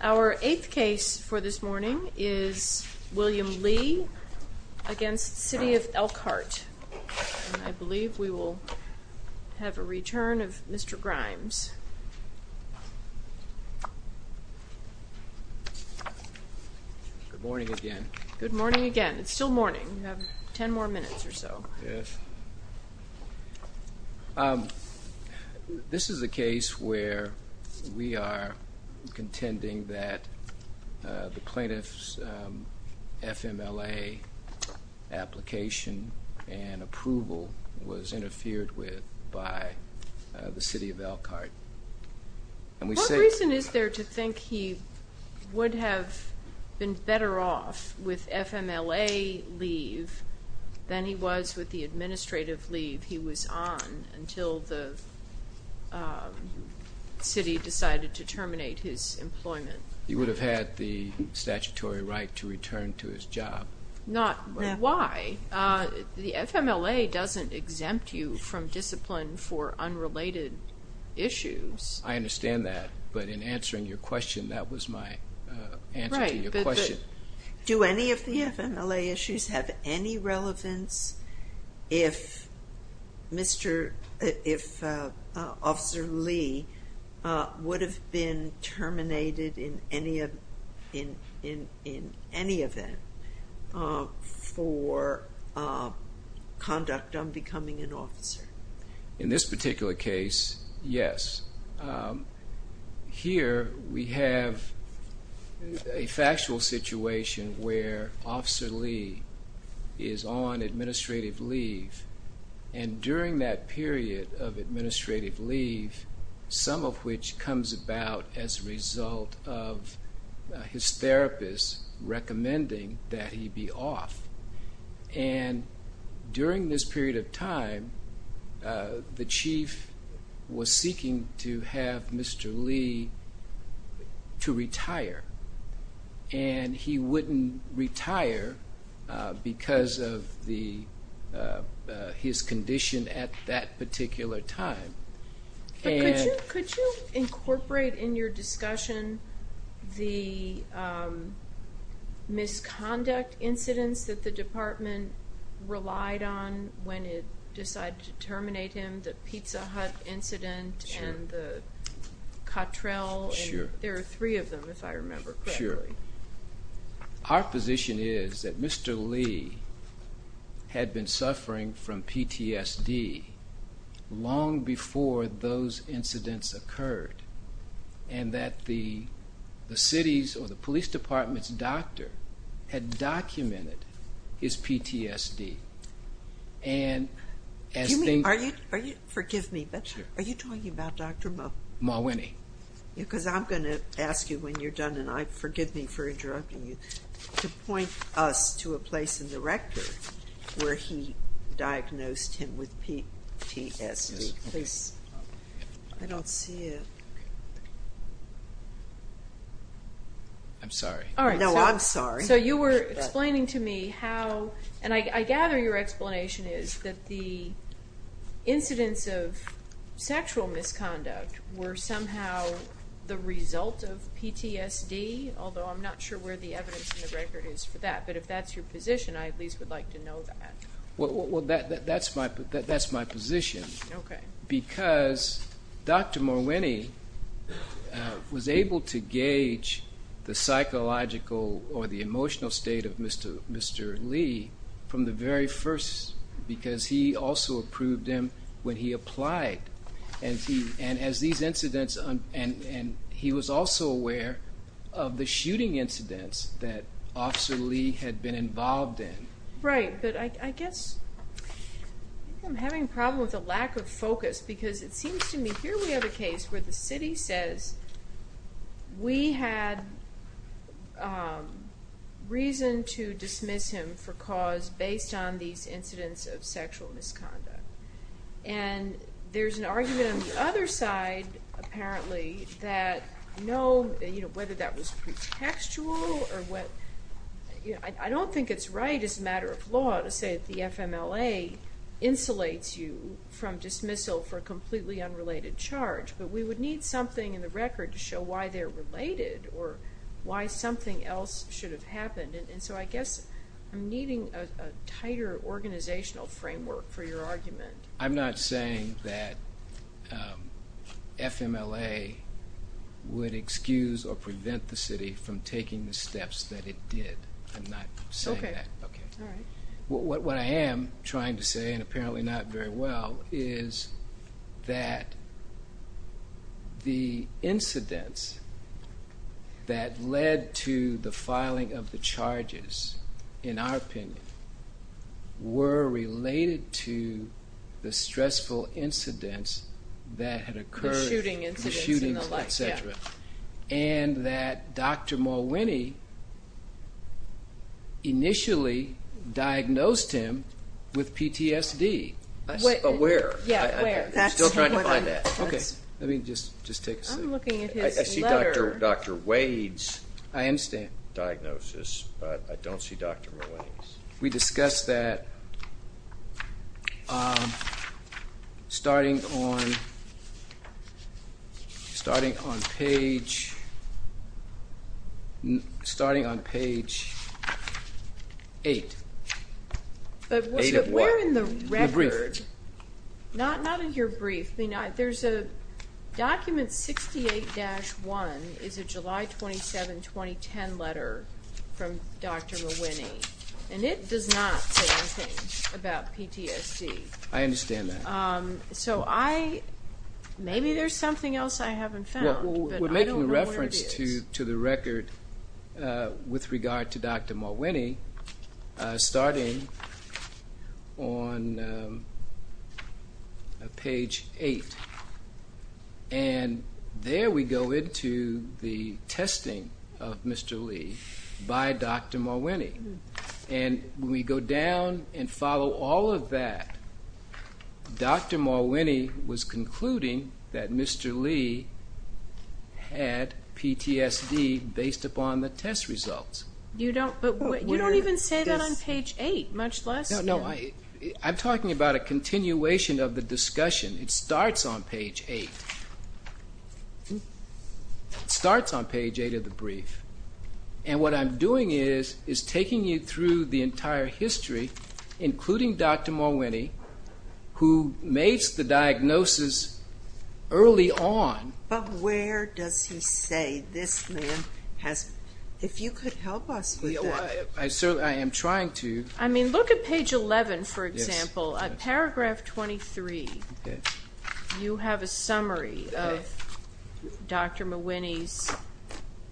Our eighth case for this morning is William Lee v. City of Elkhart. I believe we will have a return of Mr. Grimes. Good morning again. Good morning again. It's still morning. You have ten more minutes or so. Yes. This is a case where we are contending that the plaintiff's FMLA application and approval was interfered with by the City of Elkhart. What reason is there to think he would have been better off with FMLA leave than he was with the administrative leave he was on until the city decided to terminate his employment? He would have had the statutory right to return to his job. Not why. The FMLA doesn't exempt you from discipline for unrelated issues. I understand that, but in answering your question, that was my answer to your question. Do any of the FMLA issues have any relevance if Officer Lee would have been terminated in any event for conduct on becoming an officer? In this particular case, yes. Here we have a factual situation where Officer Lee is on administrative leave, and during that period of administrative leave, some of which comes about as a result of his therapist recommending that he be off. During this period of time, the Chief was seeking to have Mr. Lee to retire, and he wouldn't retire because of his condition at that particular time. Could you incorporate in your discussion the misconduct incidents that the department relied on when it decided to terminate him, the Pizza Hut incident and the Cottrell? Sure. There are three of them, if I remember correctly. Our position is that Mr. Lee had been suffering from PTSD long before those incidents occurred, and that the city's or the police department's doctor had documented his PTSD. Forgive me, but are you talking about Dr. Mawwenni? Mawwenni. Because I'm going to ask you when you're done, and forgive me for interrupting you, to point us to a place in the record where he diagnosed him with PTSD. I'm sorry. No, I'm sorry. So you were explaining to me how, and I gather your explanation is that the incidents of sexual misconduct were somehow the result of PTSD, although I'm not sure where the evidence in the record is for that. But if that's your position, I at least would like to know that. Well, that's my position. Okay. Because Dr. Mawwenni was able to gauge the psychological or the emotional state of Mr. Lee from the very first, because he also approved him when he applied. And he was also aware of the shooting incidents that Officer Lee had been involved in. Right. But I guess I'm having a problem with the lack of focus, because it seems to me here we have a case where the city says, we had reason to dismiss him for cause based on these incidents of sexual misconduct. And there's an argument on the other side, apparently, that no, whether that was pretextual or what, I don't think it's right as a matter of law to say that the FMLA insulates you from dismissal for a completely unrelated charge. But we would need something in the record to show why they're related or why something else should have happened. And so I guess I'm needing a tighter organizational framework for your argument. I'm not saying that FMLA would excuse or prevent the city from taking the steps that it did. I'm not saying that. Okay. All right. What I am trying to say, and apparently not very well, is that the incidents that led to the filing of the charges, in our opinion, were related to the stressful incidents that had occurred. The shooting incidents in the light, yeah. And that Dr. Mulwiney initially diagnosed him with PTSD. Where? Yeah, where? I'm still trying to find that. Okay. Let me just take a second. I'm looking at his letter. I see Dr. Wade's diagnosis, but I don't see Dr. Mulwiney's. We discussed that starting on page 8. But where in the record? In the brief. Not in your brief. Document 68-1 is a July 27, 2010 letter from Dr. Mulwiney, and it does not say anything about PTSD. I understand that. So maybe there's something else I haven't found, but I don't know where it is. with regard to Dr. Mulwiney, starting on page 8. And there we go into the testing of Mr. Lee by Dr. Mulwiney. And when we go down and follow all of that, Dr. Mulwiney was concluding that Mr. Lee had PTSD based upon the test results. You don't even say that on page 8, much less? No, I'm talking about a continuation of the discussion. It starts on page 8. It starts on page 8 of the brief. And what I'm doing is taking you through the entire history, including Dr. Mulwiney, who makes the diagnosis early on. But where does he say this man has been? If you could help us with that. I certainly am trying to. I mean, look at page 11, for example. Paragraph 23, you have a summary of Dr. Mulwiney's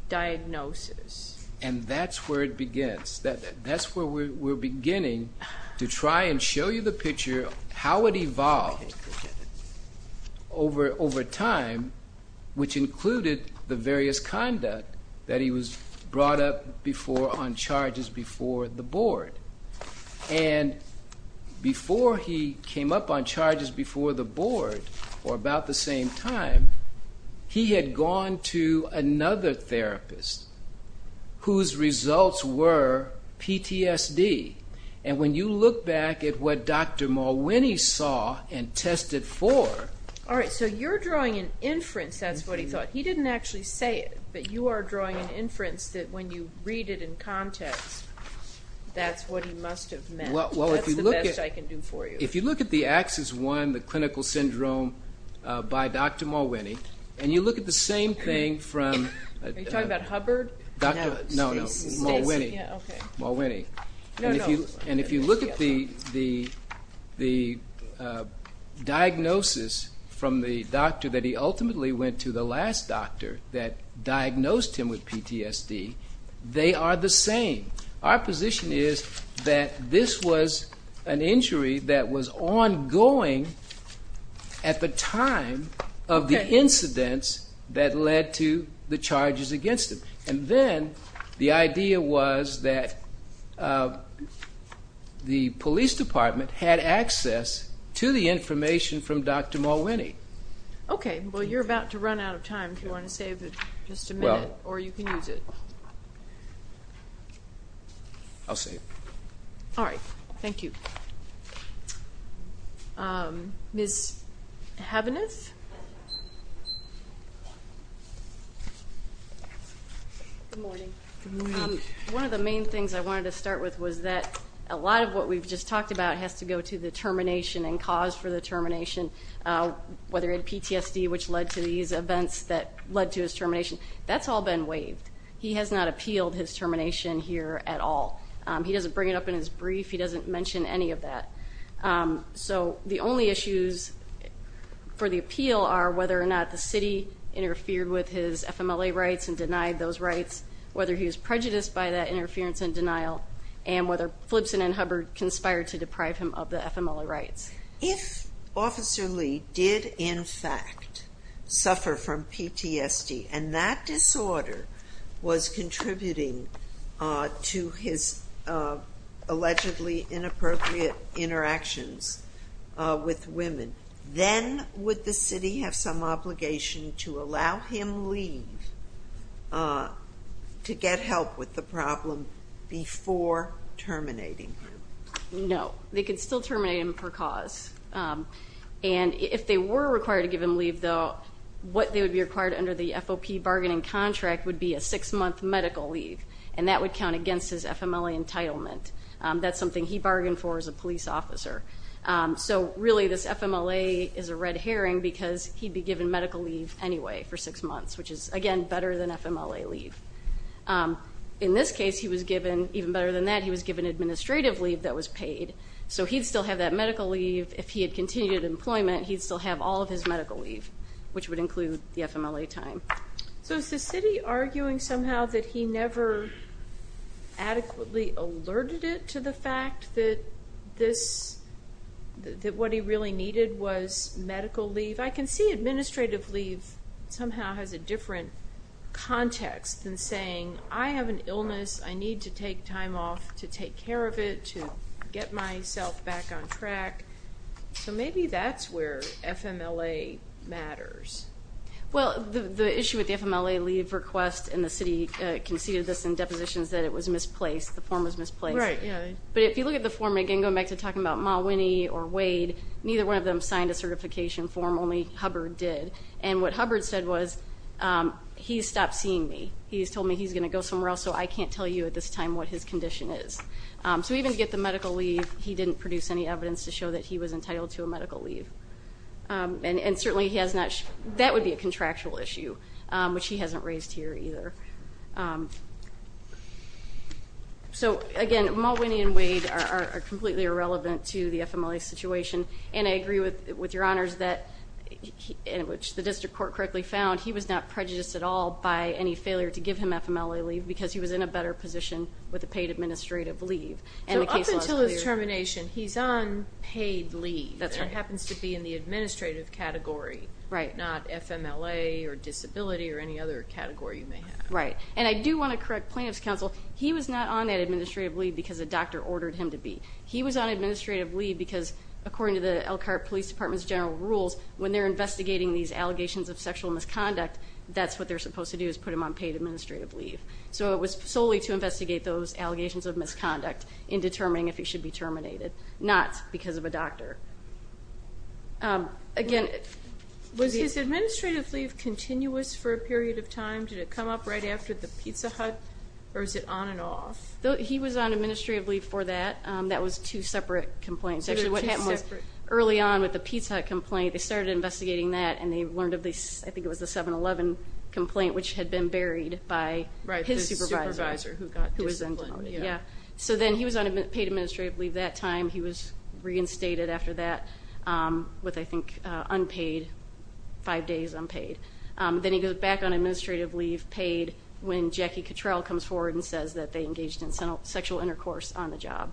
diagnosis. And that's where it begins. That's where we're beginning to try and show you the picture, how it evolved over time, which included the various conduct that he was brought up before on charges before the board. And before he came up on charges before the board, or about the same time, he had gone to another therapist whose results were PTSD. And when you look back at what Dr. Mulwiney saw and tested for... All right, so you're drawing an inference, that's what he thought. He didn't actually say it, but you are drawing an inference that when you read it in context, that's what he must have meant. That's the best I can do for you. If you look at the AXIS-1, the clinical syndrome by Dr. Mulwiney, and you look at the same thing from... Are you talking about Hubbard? No, Mulwiney. And if you look at the diagnosis from the doctor that he ultimately went to, the last doctor that diagnosed him with PTSD, they are the same. Our position is that this was an injury that was ongoing at the time of the incidents that led to the charges against him. And then the idea was that the police department had access to the information from Dr. Mulwiney. Okay, well you're about to run out of time, if you want to save just a minute, or you can use it. I'll save. All right, thank you. Ms. Habeneth? Good morning. Good morning. One of the main things I wanted to start with was that a lot of what we've just talked about has to go to the termination and cause for the termination, whether it's PTSD, which led to these events that led to his termination. That's all been waived. He has not appealed his termination here at all. He doesn't bring it up in his brief. He doesn't mention any of that. So the only issues for the appeal are whether or not the city interfered with his FMLA rights and denied those rights, whether he was prejudiced by that interference and denial, and whether Flipson and Hubbard conspired to deprive him of the FMLA rights. If Officer Lee did, in fact, suffer from PTSD and that disorder was contributing to his allegedly inappropriate interactions with women, then would the city have some obligation to allow him leave to get help with the problem before terminating him? No. They could still terminate him per cause. And if they were required to give him leave, though, what they would be required under the FOP bargaining contract would be a six-month medical leave, and that would count against his FMLA entitlement. That's something he bargained for as a police officer. So really this FMLA is a red herring because he'd be given medical leave anyway for six months, which is, again, better than FMLA leave. In this case, even better than that, he was given administrative leave that was paid, so he'd still have that medical leave. If he had continued employment, he'd still have all of his medical leave, which would include the FMLA time. So is the city arguing somehow that he never adequately alerted it to the fact that what he really needed was medical leave? I can see administrative leave somehow has a different context than saying, I have an illness, I need to take time off to take care of it, to get myself back on track. So maybe that's where FMLA matters. Well, the issue with the FMLA leave request, and the city conceded this in depositions that it was misplaced, the form was misplaced. Right, yeah. But if you look at the form, again, going back to talking about Ma Winnie or Wade, neither one of them signed a certification form, only Hubbard did. And what Hubbard said was, he's stopped seeing me. He's told me he's going to go somewhere else, so I can't tell you at this time what his condition is. So even to get the medical leave, he didn't produce any evidence to show that he was entitled to a medical leave. And certainly that would be a contractual issue, which he hasn't raised here either. So, again, Ma Winnie and Wade are completely irrelevant to the FMLA situation. And I agree with your honors that, in which the district court correctly found, he was not prejudiced at all by any failure to give him FMLA leave because he was in a better position with a paid administrative leave. So up until his termination, he's on paid leave. That's right. It happens to be in the administrative category, not FMLA or disability or any other category you may have. Right. And I do want to correct Plaintiff's Counsel. He was not on that administrative leave because a doctor ordered him to be. He was on administrative leave because, according to the Elkhart Police Department's general rules, when they're investigating these allegations of sexual misconduct, that's what they're supposed to do is put him on paid administrative leave. So it was solely to investigate those allegations of misconduct in determining if he should be terminated, not because of a doctor. Again, was his administrative leave continuous for a period of time? Did it come up right after the Pizza Hut, or was it on and off? He was on administrative leave for that. That was two separate complaints. Actually, what happened was early on with the Pizza Hut complaint, they started investigating that, and they learned of this, I think it was the 7-11 complaint, which had been buried by his supervisor who was then demoted. So then he was on paid administrative leave that time. He was reinstated after that with, I think, unpaid, five days unpaid. Then he goes back on administrative leave paid when Jackie Cottrell comes forward and says that they engaged in sexual intercourse on the job.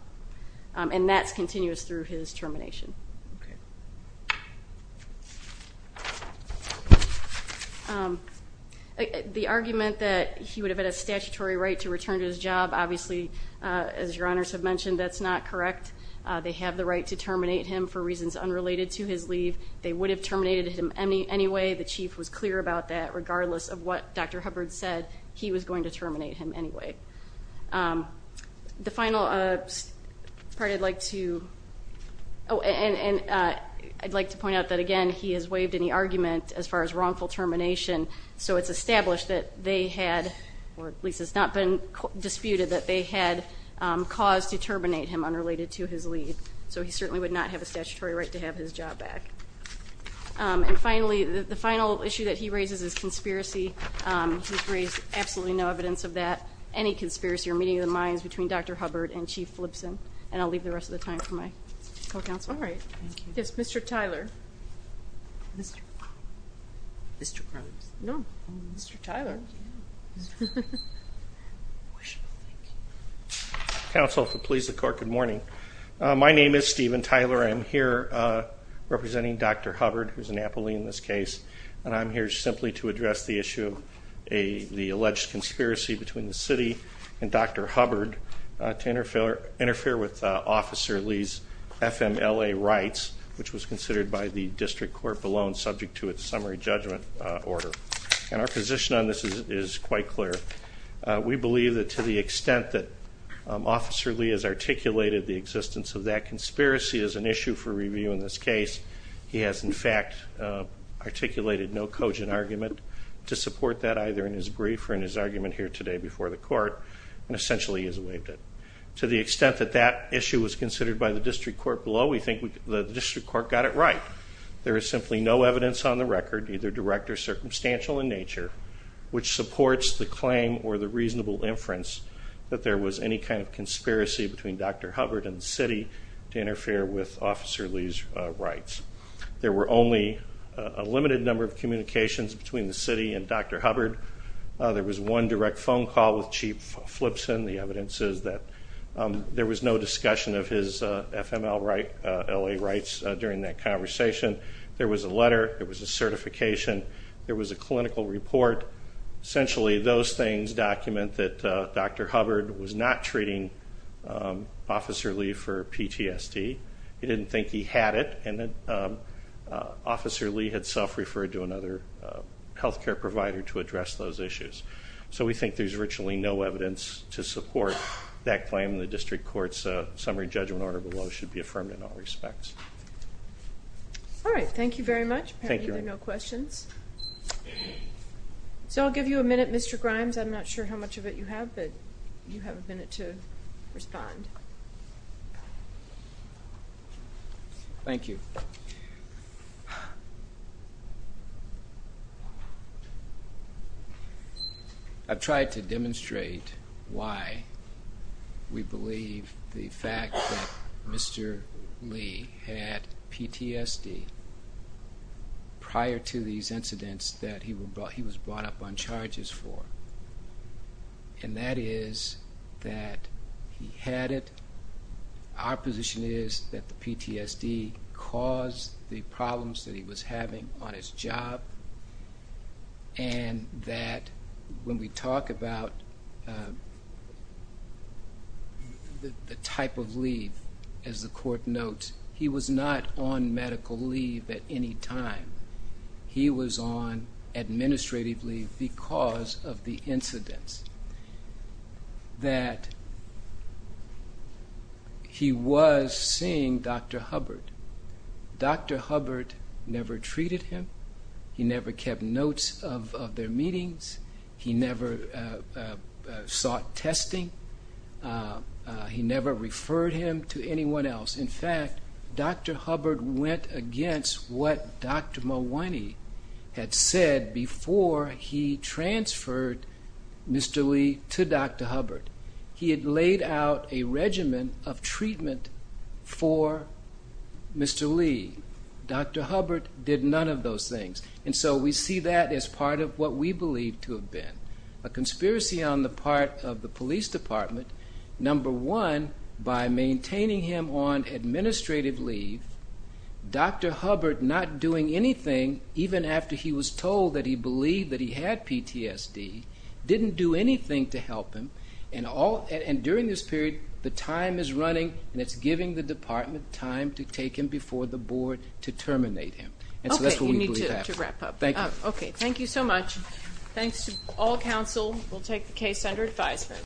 And that's continuous through his termination. The argument that he would have had a statutory right to return to his job, obviously, as your honors have mentioned, that's not correct. They have the right to terminate him for reasons unrelated to his leave. They would have terminated him anyway. The chief was clear about that. Regardless of what Dr. Hubbard said, he was going to terminate him anyway. The final part I'd like to point out that, again, he has waived any argument as far as wrongful termination. So it's established that they had, or at least it's not been disputed, that they had cause to terminate him unrelated to his leave. So he certainly would not have a statutory right to have his job back. And, finally, the final issue that he raises is conspiracy. He's raised absolutely no evidence of that, any conspiracy or meeting of the minds between Dr. Hubbard and Chief Flibsen. And I'll leave the rest of the time for my co-counsel. All right. Yes, Mr. Tyler. Mr. Grimes. Mr. Grimes. No, Mr. Tyler. Counsel, if it please the court, good morning. My name is Steven Tyler. I am here representing Dr. Hubbard, who is an appellee in this case, and I'm here simply to address the issue of the alleged conspiracy between the city and Dr. Hubbard to interfere with Officer Lee's FMLA rights, which was considered by the district court below and subject to its summary judgment order. And our position on this is quite clear. We believe that to the extent that Officer Lee has articulated the existence of that conspiracy as an issue for review in this case, he has, in fact, articulated no cogent argument to support that either in his brief or in his argument here today before the court and essentially has waived it. To the extent that that issue was considered by the district court below, we think the district court got it right. There is simply no evidence on the record, either direct or circumstantial in nature, which supports the claim or the reasonable inference that there was any kind of conspiracy between Dr. Hubbard and the city to interfere with Officer Lee's rights. There were only a limited number of communications between the city and Dr. Hubbard. There was one direct phone call with Chief Flipson. The evidence is that there was no discussion of his FMLA rights during that conversation. There was a letter. There was a certification. There was a clinical report. Essentially those things document that Dr. Hubbard was not treating Officer Lee for PTSD, he didn't think he had it, and that Officer Lee had self-referred to another health care provider to address those issues. So we think there's virtually no evidence to support that claim, and the district court's summary judgment order below should be affirmed in all respects. All right, thank you very much. Apparently there are no questions. So I'll give you a minute, Mr. Grimes. I'm not sure how much of it you have, but you have a minute to respond. Thank you. I've tried to demonstrate why we believe the fact that Mr. Lee had PTSD prior to these incidents that he was brought up on charges for, and that is that he had it. Our position is that the PTSD caused the problems that he was having on his job and that when we talk about the type of leave, as the court notes, he was not on medical leave at any time. He was on administrative leave because of the incidents. That he was seeing Dr. Hubbard. Dr. Hubbard never treated him. He never kept notes of their meetings. He never sought testing. He never referred him to anyone else. In fact, Dr. Hubbard went against what Dr. Malwani had said before he transferred Mr. Lee to Dr. Hubbard. He had laid out a regimen of treatment for Mr. Lee. Dr. Hubbard did none of those things. And so we see that as part of what we believe to have been a conspiracy on the part of the police department. Number one, by maintaining him on administrative leave, Dr. Hubbard not doing anything, even after he was told that he believed that he had PTSD, didn't do anything to help him, and during this period the time is running and it's giving the department time to take him before the board to terminate him. And so that's what we believe happened. Okay, you need to wrap up. Thank you. Okay, thank you so much. Thanks to all counsel. We'll take the case under advisement.